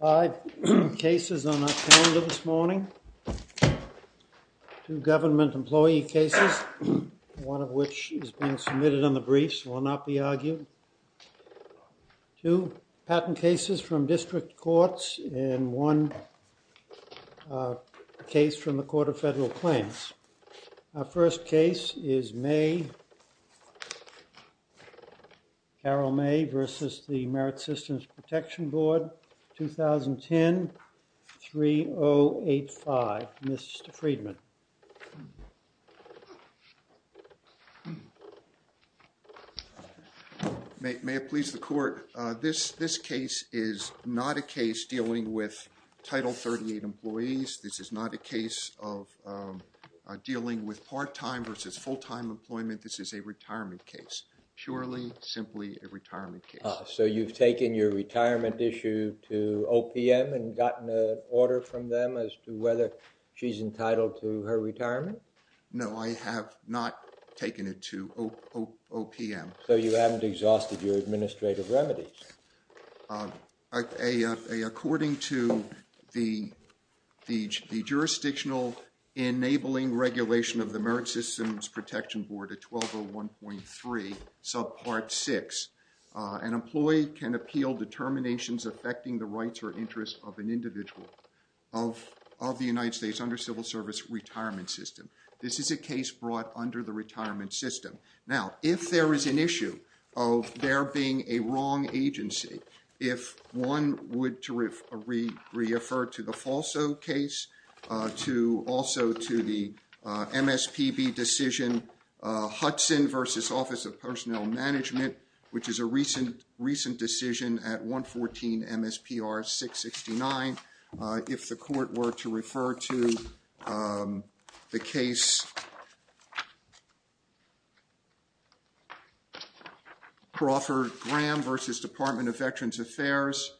Five cases on our calendar this morning. Two government employee cases, one of which is being submitted on the briefs, will not be argued. Two patent cases from district courts and one case from the Court of Federal Claims. Our first case is Carol May v. the Merit Systems Protection Board, 2010-3085. Mr. Friedman. May it please the Court. This case is not a case dealing with Title 38 employees. This is not a case of dealing with part-time versus full-time employment. This is a retirement case. Purely, your retirement issue to OPM and gotten an order from them as to whether she's entitled to her retirement? No, I have not taken it to OPM. So you haven't exhausted your administrative remedies. According to the jurisdictional enabling regulation of the Merit Systems Protection Board at 1201.3 subpart 6, an employee can appeal determinations affecting the rights or interests of an individual of the United States under civil service retirement system. This is a case brought under the retirement system. Now, if there is an issue of there being a wrong agency, if one would refer to the FALSO case, also to the MSPB decision, Hudson v. Office of Personnel Management, which is a recent decision at 114 MSPR 669. If the court were to refer to the case Crawford-Graham v. Department of Veterans Affairs,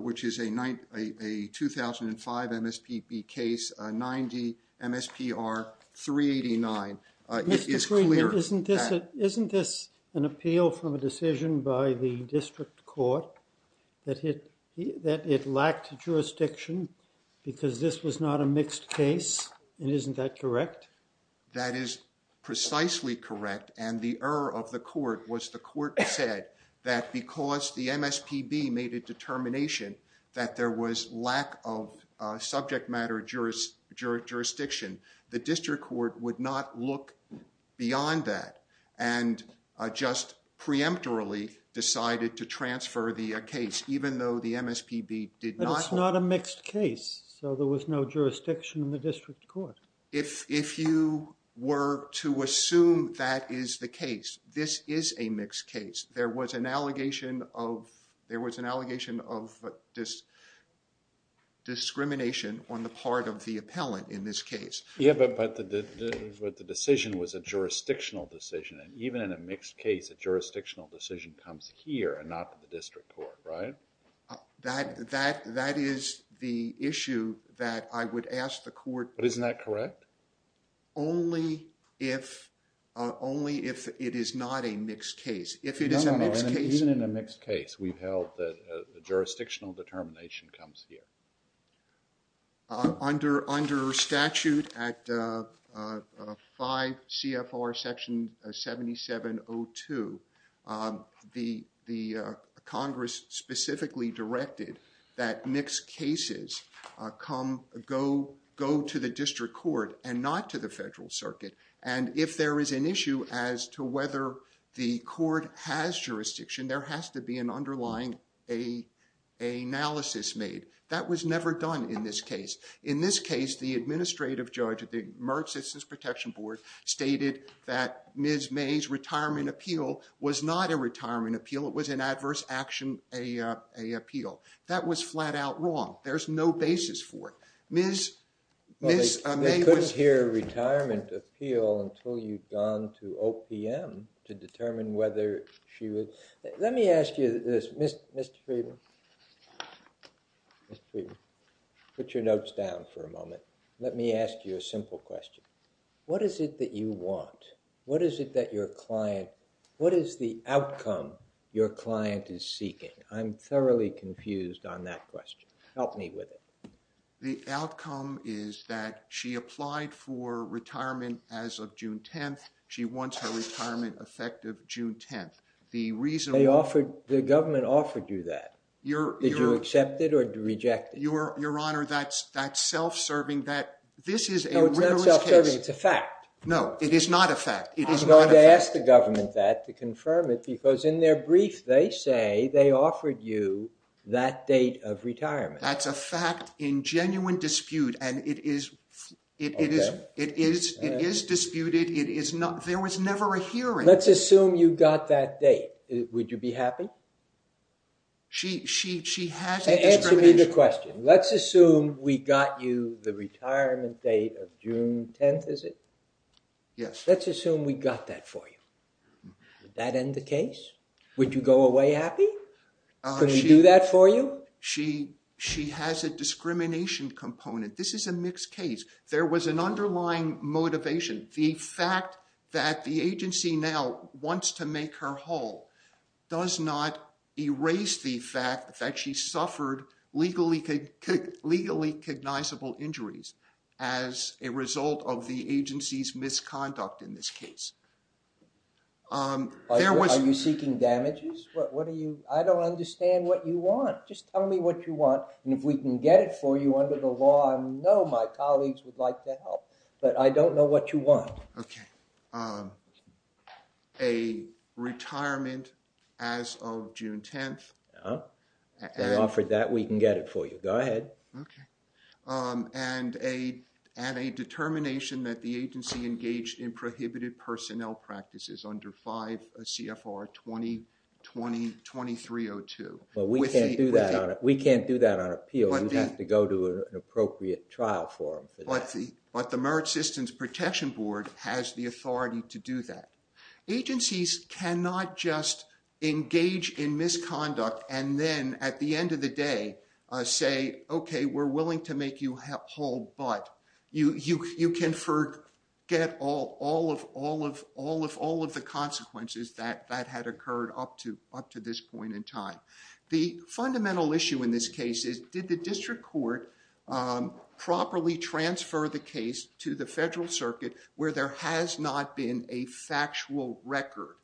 which is a 2005 MSPB case, 90 MSPR 389, it is clear. Mr. Greenberg, isn't this an appeal from a decision by the district court that it lacked jurisdiction because this was not a mixed case and isn't that correct? That is precisely correct and the error of the court was the court said that because the MSPB made a determination that there was lack of subject matter jurisdiction, the district court would not look beyond that and just preemptorily decided to transfer the case even though the MSPB did not. But it's not a mixed case, so there was no jurisdiction in the district court. If you were to assume that is the case, this is a mixed case. There was an allegation of discrimination on the part of the appellant in this case. Yeah, but the decision was a jurisdictional decision and even in a mixed case, a jurisdictional decision comes here and not to the district court, right? That is the issue that I would ask the court. But isn't that correct? Only if it is not a mixed case. Even in a mixed case, we've held that a jurisdictional the Congress specifically directed that mixed cases go to the district court and not to the federal circuit. And if there is an issue as to whether the court has jurisdiction, there has to be an underlying analysis made. That was never done in this case. In this case, the administrative judge of the It was an adverse action appeal. That was flat out wrong. There's no basis for it. They couldn't hear a retirement appeal until you'd gone to OPM to determine whether she was... Let me ask you this, Mr. Friedman. Mr. Friedman, put your notes down for a moment. Let me ask you a simple question. What is it that you want? What is it that your client, what is the outcome your client is seeking? I'm thoroughly confused on that question. Help me with it. The outcome is that she applied for retirement as of June 10th. She wants her retirement effective June 10th. The reason... They offered, the government offered you that. Did you accept it or reject it? Your Honor, that's self-serving. This is a rigorous case. It's a fact. No, it is not a fact. I'm going to ask the government that to confirm it because in their brief they say they offered you that date of retirement. That's a fact in genuine dispute and it is disputed. There was never a hearing. Let's assume you got that date. Would you be happy? She has a discrimination... Let's assume we got you the retirement date of June 10th, is it? Yes. Let's assume we got that for you. Would that end the case? Would you go away happy? Could we do that for you? She has a discrimination component. This is a mixed case. There was an underlying motivation. The fact that the agency now wants to make her whole does not erase the fact that she suffered legally cognizable injuries as a result of the agency's misconduct in this case. Are you seeking damages? What are you... I don't understand what you want. Just tell me what you want and if we can get it for you under the law, I know my colleagues would like to help, but I don't know what you want. Okay. A retirement as of June 10th. I offered that we can get it for you. Go ahead. Okay. And a determination that the agency engaged in prohibited personnel practices under 5 CFR 2020-2302. Well, we can't do that. We can't do that on appeal. We have to go to an appropriate trial but the Merit Systems Protection Board has the authority to do that. Agencies cannot just engage in misconduct and then at the end of the day say, okay, we're willing to make you whole, but you can forget all of the consequences that had occurred up to this point in time. The fundamental issue in this case is, did the district court properly transfer the case to the federal circuit where there has not been a factual record?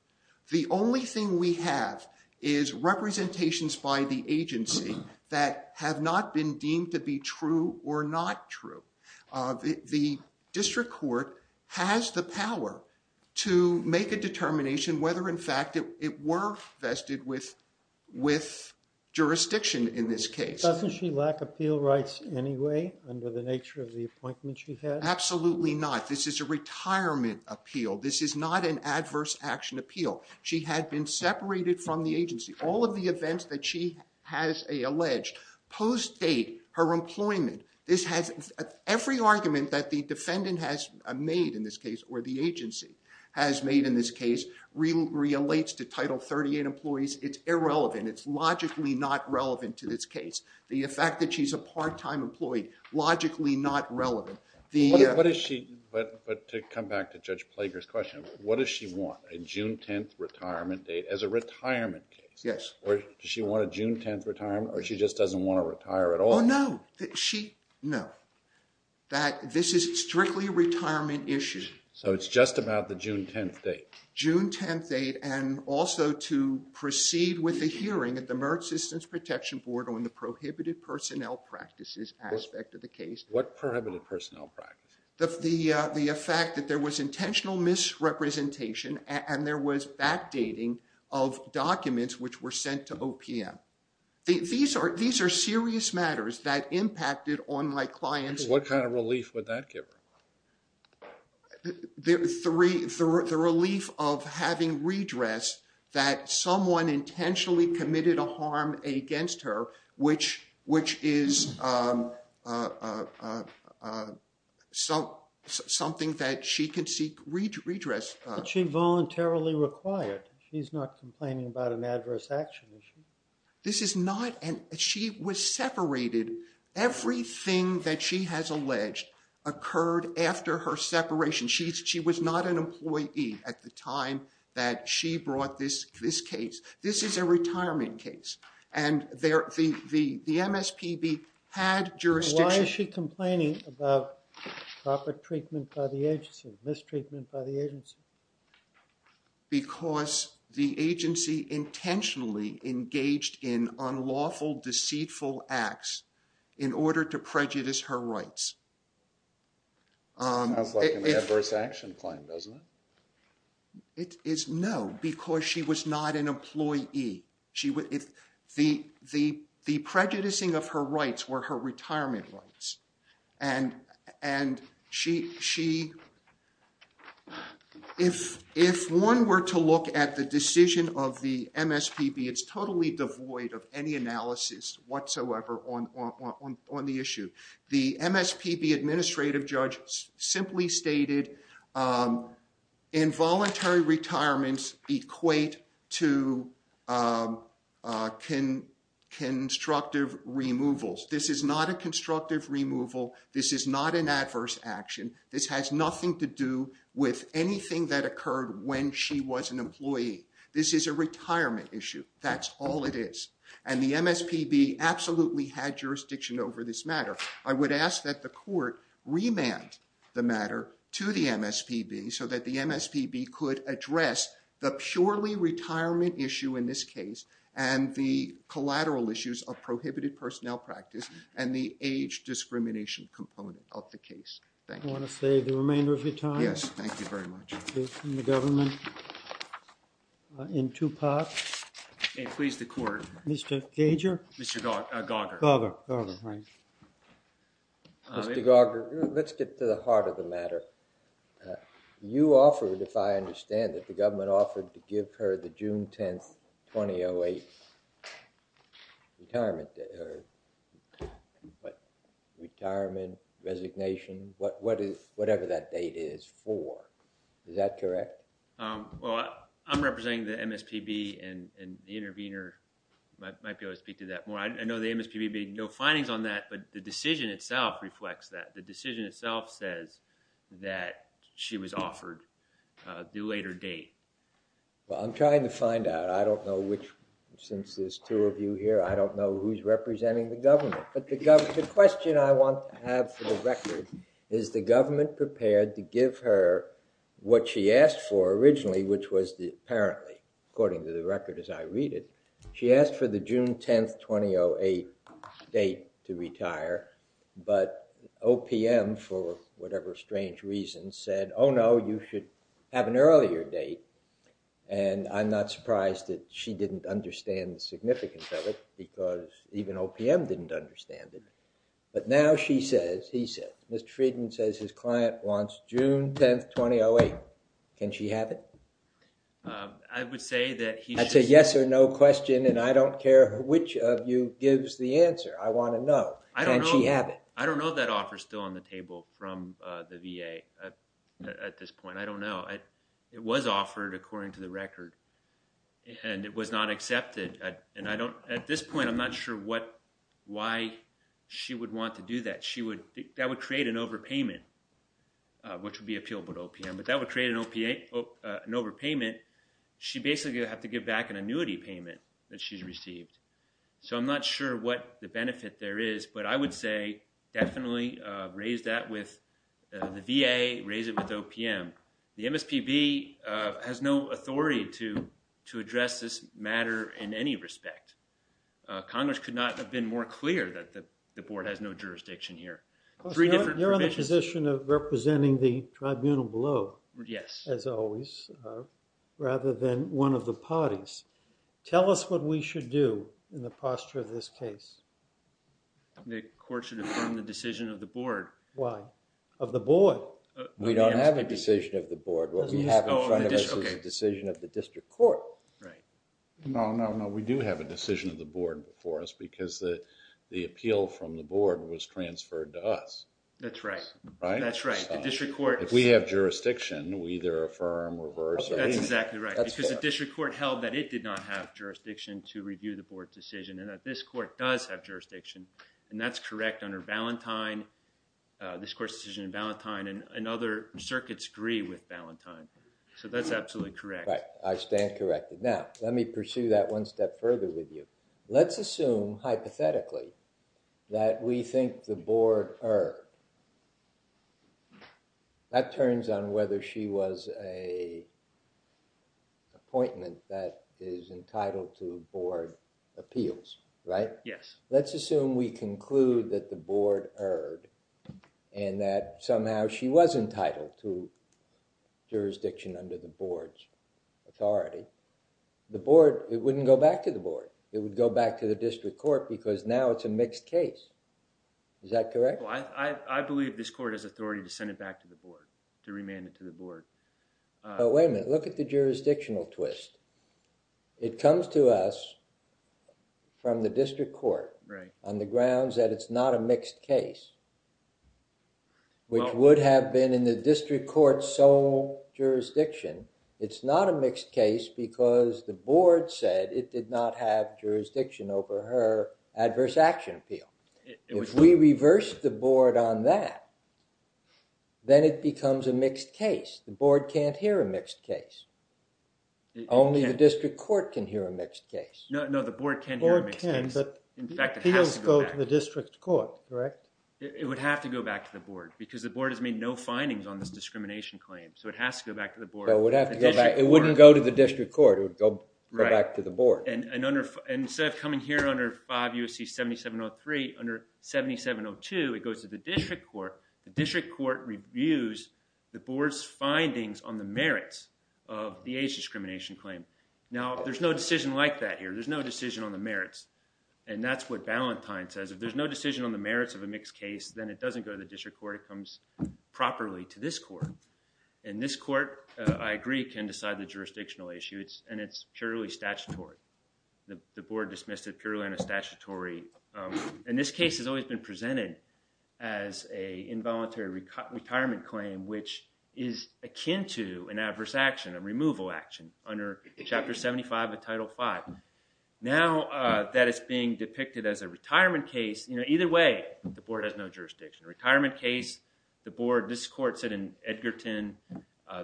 The only thing we have is representations by the agency that have not been deemed to be true or not true. The district court has the power to make a determination whether in fact it were vested with jurisdiction in this case. Doesn't she lack appeal rights anyway under the nature of the appointment she had? Absolutely not. This is a retirement appeal. This is not an adverse action appeal. She had been separated from the agency. All of the events that she has alleged, post-date, her employment, every argument that the defendant has made in this case or the agency has made in this case relates to Title 38 employees. It's irrelevant. It's logically not relevant to this case. The fact that she's a part-time employee, logically not relevant. To come back to Judge Plager's question, what does she want? A June 10th retirement date as a retirement case? Yes. Or does she want a June 10th retirement or she just doesn't want to retire at all? No. No. This is strictly a retirement issue. So it's just about the June 10th date? June 10th date and also to proceed with the hearing at the Merit Systems Protection Board on the prohibited personnel practices aspect of the case. What prohibited personnel practices? The fact that there was intentional misrepresentation and there was backdating of documents which were sent to OPM. These are serious matters that impacted on my clients. What kind of relief would that give her? The relief of having redress that someone intentionally committed a harm against her, which is something that she can seek redress. But she voluntarily required. She's not complaining about an adverse action issue. This is not an issue. She was separated. Everything that she has alleged occurred after her separation. She was not an employee at the time that she brought this case. This is a retirement case and the MSPB had jurisdiction. Why is she complaining about proper treatment by the agency, mistreatment by the agency? Because the agency intentionally engaged in unlawful, deceitful acts in order to prejudice her rights. It sounds like an adverse action claim, doesn't it? No, because she was not an employee. The prejudicing of her rights were her retirement rights. And if one were to look at the decision of the MSPB, it's totally devoid of any analysis whatsoever on the issue. The MSPB administrative judge simply stated involuntary retirements equate to constructive removals. This is not a constructive removal. This is not an adverse action. This has nothing to do with anything that occurred when she was an employee. This is a retirement issue. That's all it is. And the MSPB absolutely had jurisdiction over this matter. I would ask that the court remand the matter to the MSPB so that the MSPB could address the purely retirement issue in this case and the collateral issues of prohibited personnel practice and the age discrimination component of the case. Thank you. I want to save the remainder of your time. Yes, thank you very much. From the government in two parts. Okay, please, the court. Mr. Gager? Mr. Gager, let's get to the heart of the matter. You offered, if I understand it, the government offered to give her the June 10th, 2008 retirement date. Retirement, resignation, whatever that date is for. Is that correct? Well, I'm representing the MSPB and the intervener might be able to speak to that more. I know the MSPB had no findings on that, but the decision itself reflects that. The decision itself says that she was offered the later date. Well, I'm trying to find out. I don't know which, since there's two of you here, I don't know who's representing the government. But the question I want to have for the record, is the government prepared to give her what she asked for originally, which was apparently, according to the record as I read it, she asked for the June 10th, 2008 date to retire. But OPM, for whatever strange reason, said, oh no, you should have an earlier date. And I'm not surprised that she didn't understand the significance of it, because even OPM didn't understand it. But now she says, he said, Mr. Friedman says his client wants June 10th, 2008. Can she have it? I would say that he... That's a yes or no question and I don't care which of you gives the answer. I want to know. Can she have it? I don't know that offer still on the table from the VA at this point. I don't know. It was offered according to the record and it was not accepted. And I don't, at this point, I'm not sure what, why she would want to do that. She would, that would create an overpayment, which would be appealable to OPM, but that would create an overpayment. She basically would have to give back an annuity payment that she's received. So I'm not sure what the benefit there is, but I would say definitely raise that with the VA, raise it with OPM. The MSPB has no authority to address this matter in any respect. Congress could not have been more clear that the board has no jurisdiction here. You're in the position of representing the tribunal below. Yes. As always, rather than one of the parties. Tell us what we should do in the posture of this case. The court should affirm the decision of the board. Why? Of the board. We don't have a decision of the board. What we have in front of us is a decision of the district court. Right. No, no, no, we do have a decision of the board before us because the, the appeal from the board was transferred to us. That's right. That's right. The district court. If we have jurisdiction, we either affirm, reverse. That's exactly right because the district court held that it did not have jurisdiction to review the board's decision and that this court does have jurisdiction and that's correct under Valentine, this court's decision in Valentine and other circuits agree with Valentine. So that's absolutely correct. Right. I stand corrected. Now let me pursue that one step further with you. Let's assume hypothetically that we think the board or that turns on whether she was a appointment that is entitled to board appeals, right? Yes. Let's assume we conclude that the authority, the board, it wouldn't go back to the board. It would go back to the district court because now it's a mixed case. Is that correct? Well, I, I, I believe this court has authority to send it back to the board to remand it to the board. But wait a minute, look at the jurisdictional twist. It comes to us from the district court. Right. On the grounds that it's not a mixed case which would have been in the district court's sole jurisdiction. It's not a mixed case because the board said it did not have jurisdiction over her adverse action appeal. If we reverse the board on that, then it becomes a mixed case. The board can't hear a mixed case. Only the district court can hear a mixed case. No, no, the board can't hear a mixed case. In fact, appeals go to the district court, correct? It would have to go back to the board because the board has made no findings on this discrimination claim. So, it has to go back to the board. It would have to go back. It wouldn't go to the district court. It would go back to the board. And, and under, instead of coming here under 5 U.S.C. 7703, under 7702, it goes to the district court. The district court reviews the board's merits of the age discrimination claim. Now, there's no decision like that here. There's no decision on the merits. And that's what Ballantyne says. If there's no decision on the merits of a mixed case, then it doesn't go to the district court. It comes properly to this court. And this court, I agree, can decide the jurisdictional issue. It's, and it's purely statutory. The board dismissed it purely in a statutory, and this case has always been presented as a involuntary retirement claim, which is akin to an adverse action, a removal action under Chapter 75 of Title V. Now that it's being depicted as a retirement case, you know, either way, the board has no jurisdiction. A retirement case, the board, this court said in Edgerton,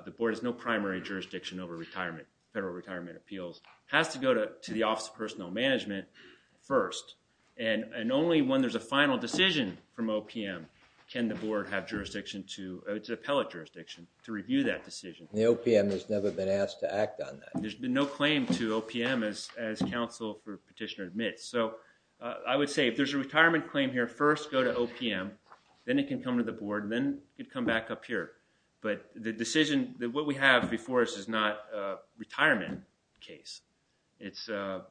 the board has no primary jurisdiction over retirement, federal retirement appeals. It has to go to the Office of Personal Management first. And, and only when there's a final decision from OPM can the board have jurisdiction to, it's appellate jurisdiction to review that decision. The OPM has never been asked to act on that. There's been no claim to OPM as, as counsel for petitioner admits. So, I would say if there's a retirement claim here, first go to OPM, then it can come to the board, then it could come back up here. But the decision that what we have before us is not a retirement case. It's a...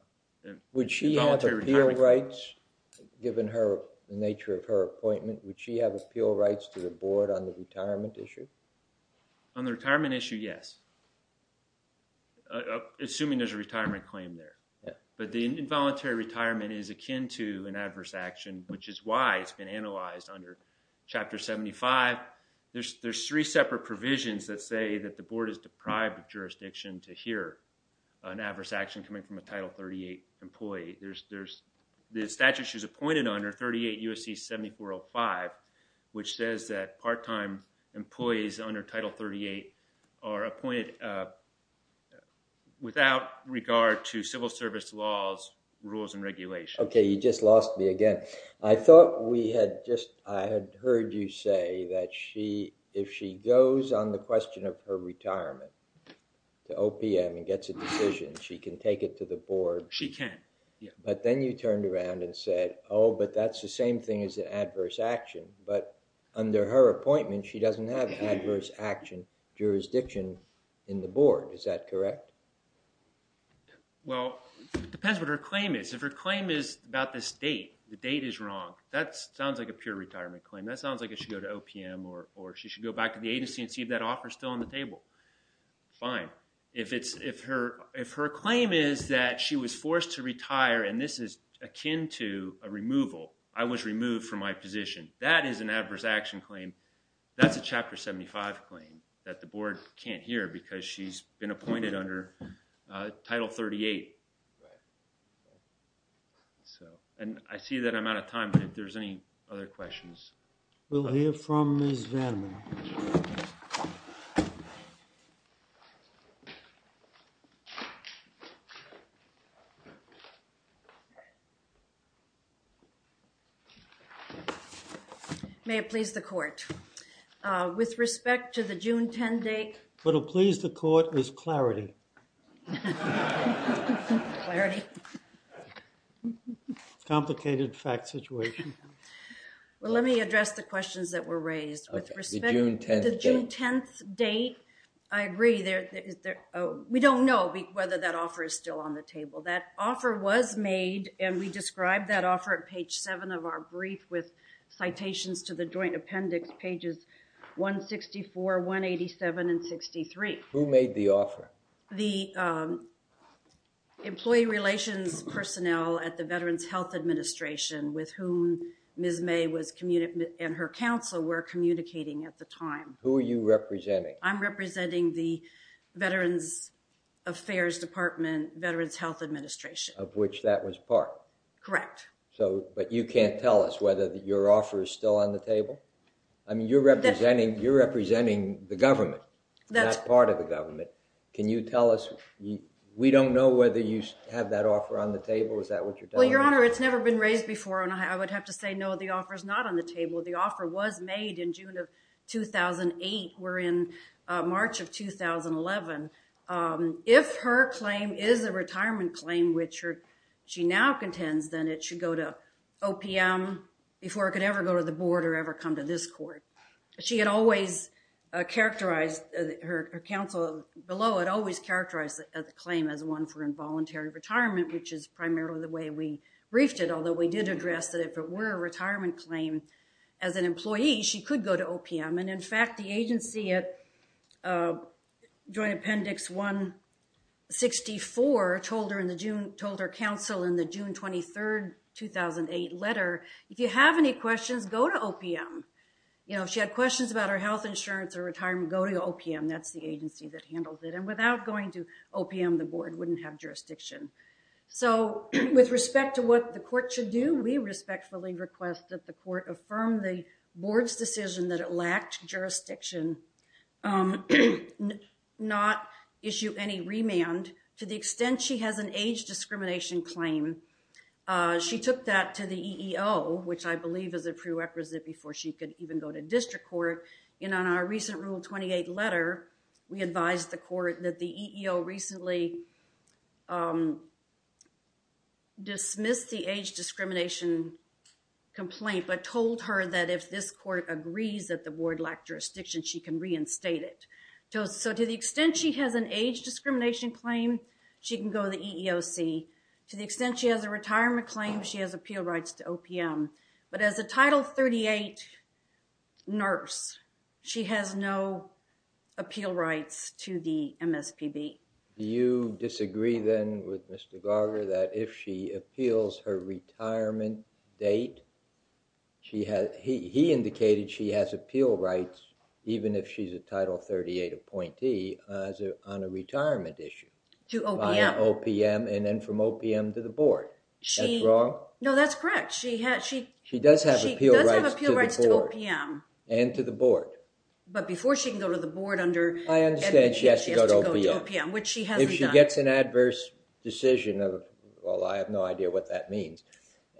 Would she have appeal rights, given her, the nature of her appointment, would she have appeal rights to the board on the retirement issue? On the retirement issue, yes. Assuming there's a retirement claim there. But the involuntary retirement is akin to an adverse action, which is why it's been analyzed under Chapter 75. There's, there's three separate provisions that say that the board is deprived of jurisdiction to hear an adverse action coming from a Title 38 employee. There's, there's the statute she's appointed under, 38 U.S.C. 7405, which says that part-time employees under Title 38 are appointed without regard to civil service laws, rules, and regulations. Okay, you just lost me again. I thought we had just, I had heard you say that she, if she goes on the question of her retirement to OPM and gets a decision, she can take it to the board. She can, yeah. But then you turned around and said, oh, but that's the same thing as an adverse action. But under her appointment, she doesn't have adverse action jurisdiction in the board. Is that correct? Well, it depends what her claim is. If her claim is about this date, the date is wrong, that sounds like a pure retirement claim. That sounds like it should go to OPM or she should go back to the agency and see if that offer is still on the table. Fine. If it's, if her, if her claim is that she was forced to retire and this is akin to a removal, I was removed from my position, that is an adverse action claim. That's a Chapter 75 claim that the board can't hear because she's been appointed under Title 38. So, and I see that I'm out of time, but if there's any other questions. We'll hear from Ms. Vandermeer. May it please the court. With respect to the June 10 date. What will please the court is clarity. Clarity. Complicated fact situation. Well, let me address the questions that were raised. With respect to the June 10th date, I agree there is there, we don't know whether that offer is still on the table. That offer was made and we described that offer at page 7 of our brief with 164, 187 and 63. Who made the offer? The employee relations personnel at the Veterans Health Administration with whom Ms. May was, and her counsel were communicating at the time. Who are you representing? I'm representing the Veterans Affairs Department, Veterans Health Administration. Of which that was part. Correct. So, but you can't tell us whether your offer is on the table. I mean, you're representing, you're representing the government. That's part of the government. Can you tell us? We don't know whether you have that offer on the table. Is that what you're telling me? Well, your honor, it's never been raised before and I would have to say no, the offer is not on the table. The offer was made in June of 2008. We're in March of 2011. If her claim is a retirement claim, which she now contends, then it should go to OPM before it could ever go to the board or ever come to this court. She had always characterized, her counsel below, had always characterized the claim as one for involuntary retirement, which is primarily the way we briefed it. Although we did address that if it were a retirement claim as an employee, she could go to OPM. And in fact, the agency at Joint Appendix 164 told her in the June, 23rd, 2008 letter, if you have any questions, go to OPM. You know, if she had questions about her health insurance or retirement, go to OPM. That's the agency that handled it. And without going to OPM, the board wouldn't have jurisdiction. So with respect to what the court should do, we respectfully request that the court affirm the board's decision that it lacked jurisdiction, not issue any remand. To the extent she has an age discrimination claim, she took that to the EEO, which I believe is a prerequisite before she could even go to district court. And on our recent Rule 28 letter, we advised the court that the EEO recently dismissed the age discrimination complaint, but told her that if this court agrees that the board lacked jurisdiction, she can reinstate it. So to the extent she has an age discrimination claim, she can go to the EEOC. To the extent she has a retirement claim, she has appeal rights to OPM. But as a Title 38 nurse, she has no appeal rights to the MSPB. Do you disagree then with Mr. Date? He indicated she has appeal rights, even if she's a Title 38 appointee, on a retirement issue. To OPM. OPM and then from OPM to the board. That's wrong? No, that's correct. She does have appeal rights to the board. She does have appeal rights to OPM. And to the board. But before she can go to the board under... I understand she has to go to OPM, which she hasn't done. If she gets an adverse decision of, well I have no idea what that means,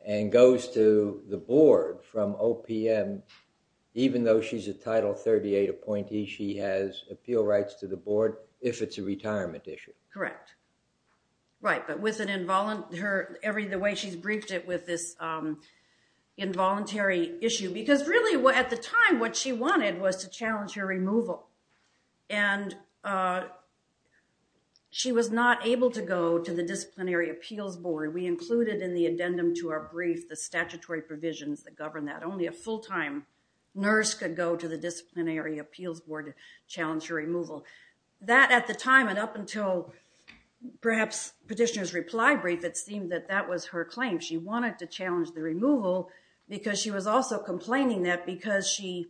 and goes to the board from OPM, even though she's a Title 38 appointee, she has appeal rights to the board if it's a retirement issue. Correct. Right, but with an involuntary... the way she's briefed it with this involuntary issue, because really at the time what she wanted was to challenge her removal. And she was not able to go to the Disciplinary Appeals Board. We included in the addendum to our brief the statutory provisions that govern that. Only a full-time nurse could go to the Disciplinary Appeals Board to challenge her removal. That at the time, and up until perhaps petitioner's reply brief, it seemed that that was her claim. She wanted to challenge the removal because she was also complaining that because she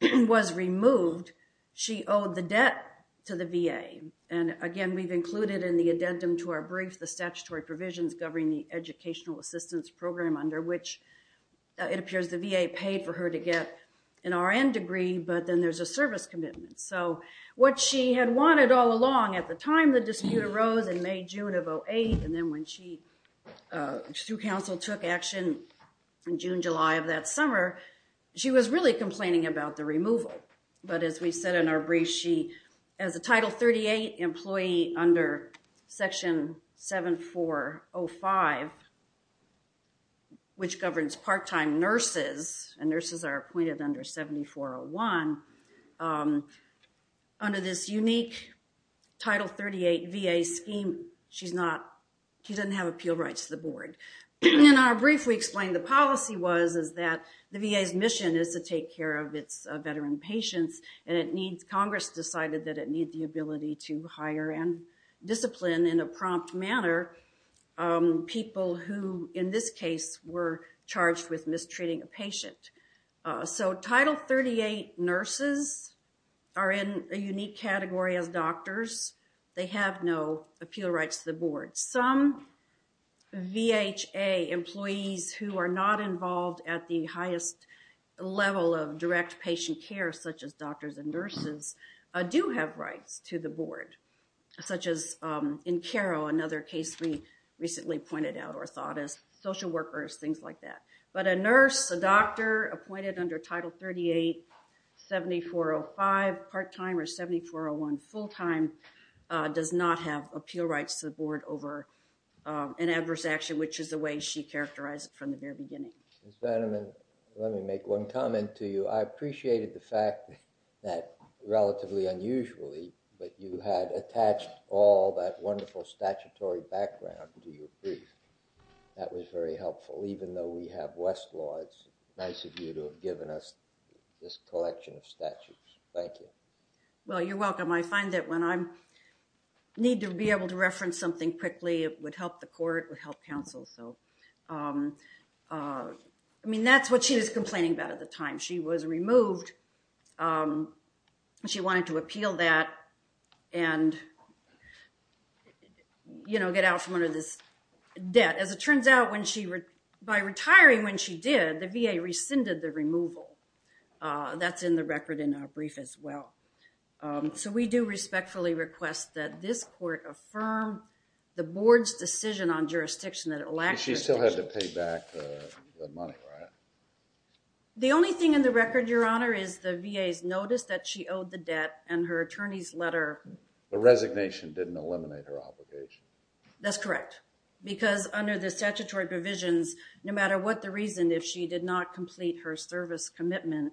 was removed, she owed the debt to the VA. And again, we've included in the addendum to our brief the statutory provisions governing the Educational Assistance Program under which it appears the VA paid for her to get an RN degree, but then there's a service commitment. So what she had wanted all along at the time the dispute arose in May-June of 08, and then when she, through counsel, took action in June-July of that summer, she was really complaining about the removal. But as we said in our brief, she, as a Title 38 employee under Section 7405, which governs part-time nurses, and nurses are appointed under 7401, under this unique Title 38 VA scheme, she's not, she doesn't have appeal rights to the board. In our brief, we explained the policy was, is that the VA's mission is to take care of its veteran patients, and it needs, Congress decided that it needs the ability to hire and discipline in a prompt manner people who, in this case, were charged with mistreating a patient. So Title 38 nurses are in a unique category as doctors. They have no appeal rights to the board. Some VHA employees who are not involved at the highest level of direct patient care, such as another case we recently pointed out, orthotists, social workers, things like that. But a nurse, a doctor appointed under Title 38 7405 part-time or 7401 full-time does not have appeal rights to the board over an adverse action, which is the way she characterized it from the very beginning. Ms. Bannerman, let me make one comment to you. I appreciated the fact that, relatively unusually, but you had attached all that wonderful statutory background to your brief. That was very helpful, even though we have Westlaw. It's nice of you to have given us this collection of statutes. Thank you. Well, you're welcome. I find that when I need to be able to reference something quickly, it would help the court, would help counsel. So, I mean, that's what she was complaining about at the time. She was removed. She wanted to appeal that and get out from under this debt. As it turns out, by retiring when she did, the VA rescinded the removal. That's in the record in our brief as well. So we do respectfully request that this court affirm the board's decision on your behalf. The only thing in the record, Your Honor, is the VA's notice that she owed the debt and her attorney's letter. The resignation didn't eliminate her obligation. That's correct. Because under the statutory provisions, no matter what the reason, if she did not complete her service commitment,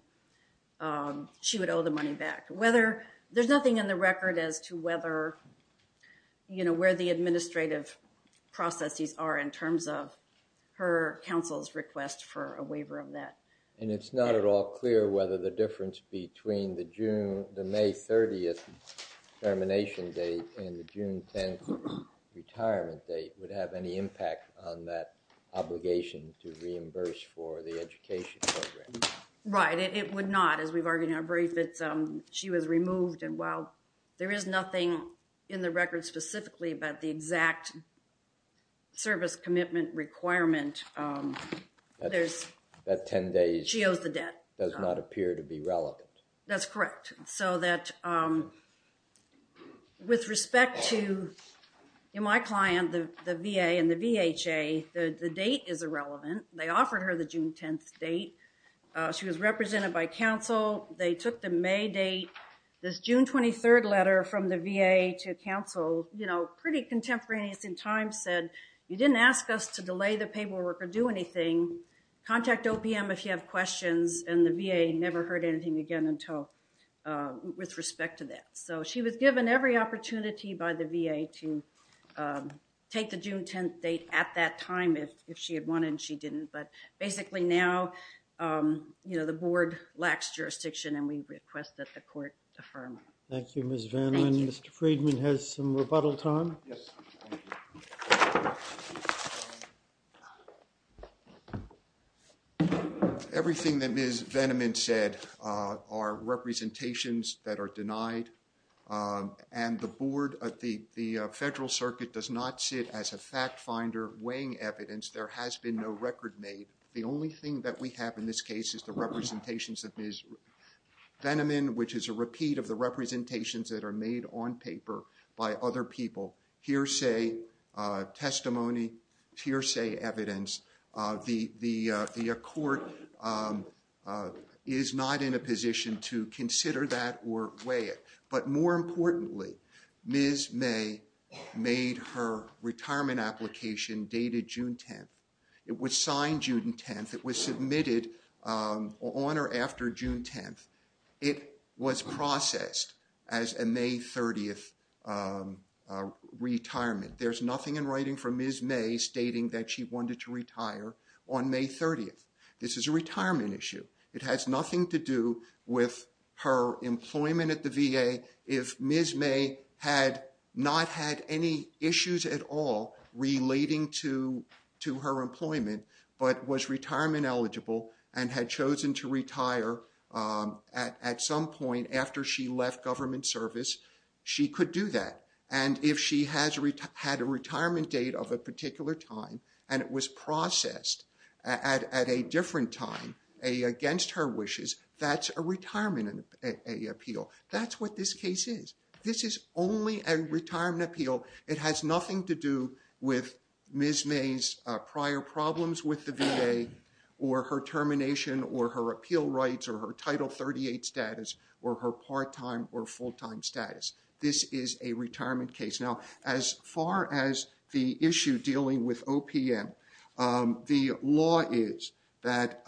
she would owe the money back. There's nothing in the record as to whether, you know, where the administrative processes are in terms of her counsel's request for a waiver of debt. It's not at all clear whether the difference between the June, the May 30th termination date and the June 10th retirement date would have any impact on that obligation to reimburse for the education program. Right, it would not. As we've argued in our brief, it's, she was removed and while there is nothing in the record specifically about the exact service commitment requirement, that 10 days, she owes the debt, does not appear to be relevant. That's correct. So that with respect to my client, the VA and the VHA, the date is irrelevant. They offered her the June 10th date. She was represented by counsel. They took the May date, this June 23rd letter from the VA to counsel, you know, pretty contemporaneous in time, said you didn't ask us to delay the paperwork or do anything. Contact OPM if you have questions and the VA never heard anything again until, with respect to that. So she was given every opportunity by the VA to take the June 10th date at that time if she had wanted and she didn't, but basically now, you know, the board lacks jurisdiction and we request that the court affirm. Thank you, Ms. Veneman. Mr. Friedman has some rebuttal time. Everything that Ms. Veneman said are representations that are denied and the board at the federal circuit does not sit as a fact finder weighing evidence. There has been no record made. The only thing that we have in this case is the representations that Ms. Veneman, which is a that are made on paper by other people, hearsay testimony, hearsay evidence. The court is not in a position to consider that or weigh it, but more importantly, Ms. May made her retirement application dated June 10th. It was signed June 10th. It was submitted on or after June 10th. It was processed as a May 30th retirement. There's nothing in writing from Ms. May stating that she wanted to retire on May 30th. This is a retirement issue. It has nothing to do with her employment at the VA. If Ms. May had not had any issues at all relating to her employment, but was retirement eligible and had chosen to retire at some point after she left government service, she could do that. And if she has had a retirement date of a particular time and it was processed at a different time, against her wishes, that's a retirement appeal. That's what this case is. This is only a retirement appeal. It has nothing to do with Ms. May's prior problems with the VA or her termination or her appeal rights or her Title 38 status or her part-time or full-time This is a retirement case. Now, as far as the issue dealing with OPM, the law is that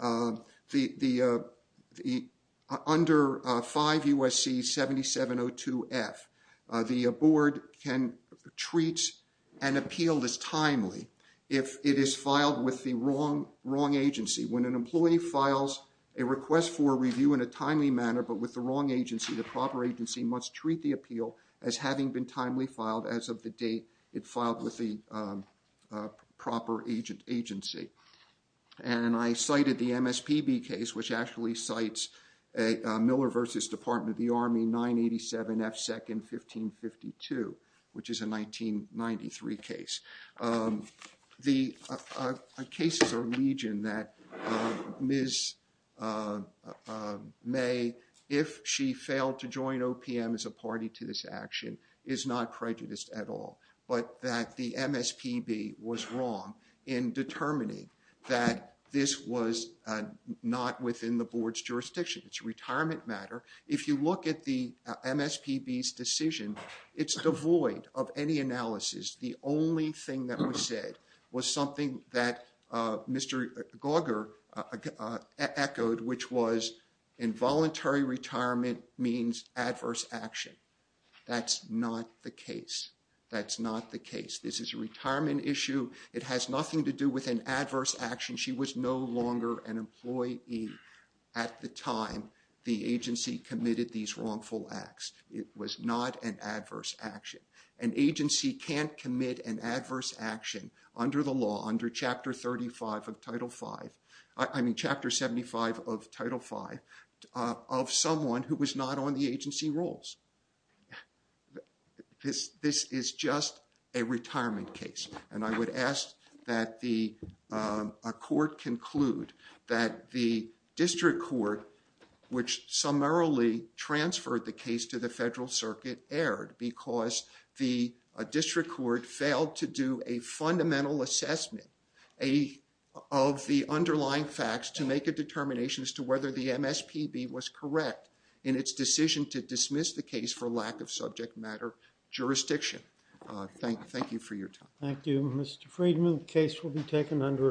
under 5 U.S.C. 7702F, the board can treat an appeal as timely if it is filed with the wrong agency. When an employee files a request for a review in a timely manner, but with the wrong agency, the proper agency must treat the appeal as having been timely filed as of the date it filed with the proper agency. And I cited the MSPB case, which actually cites a Miller v. Department of the Army 987F second 1552, which is a 1993 case. The cases are legion that Ms. May, if she failed to join OPM as a party to this action, is not prejudiced at all, but that the MSPB was wrong in determining that this was not within the board's jurisdiction. It's a retirement matter. If you look at the MSPB's decision, it's devoid of any analysis. The only thing that was said was something that Mr. Gauger echoed, which was involuntary retirement means adverse action. That's not the case. That's not the case. This is a retirement issue. It has nothing to do with an adverse action. She was no longer an employee at the time the agency committed these wrongful acts. It was not an adverse action. An agency can't commit an adverse action under the law, under Chapter 35 of Title 5, I mean, Chapter 75 of Title 5, of someone who was not on the agency rolls. This is just a retirement case. And I would ask that the court conclude that the district court, which summarily transferred the case to the federal circuit, erred because the district court failed to do a fundamental assessment of the underlying facts to make a determination as to whether the MSPB was correct in its decision to dismiss the case for lack of subject matter jurisdiction. Thank you for your time. Thank you, Mr. Friedman. The case will be taken under advisement.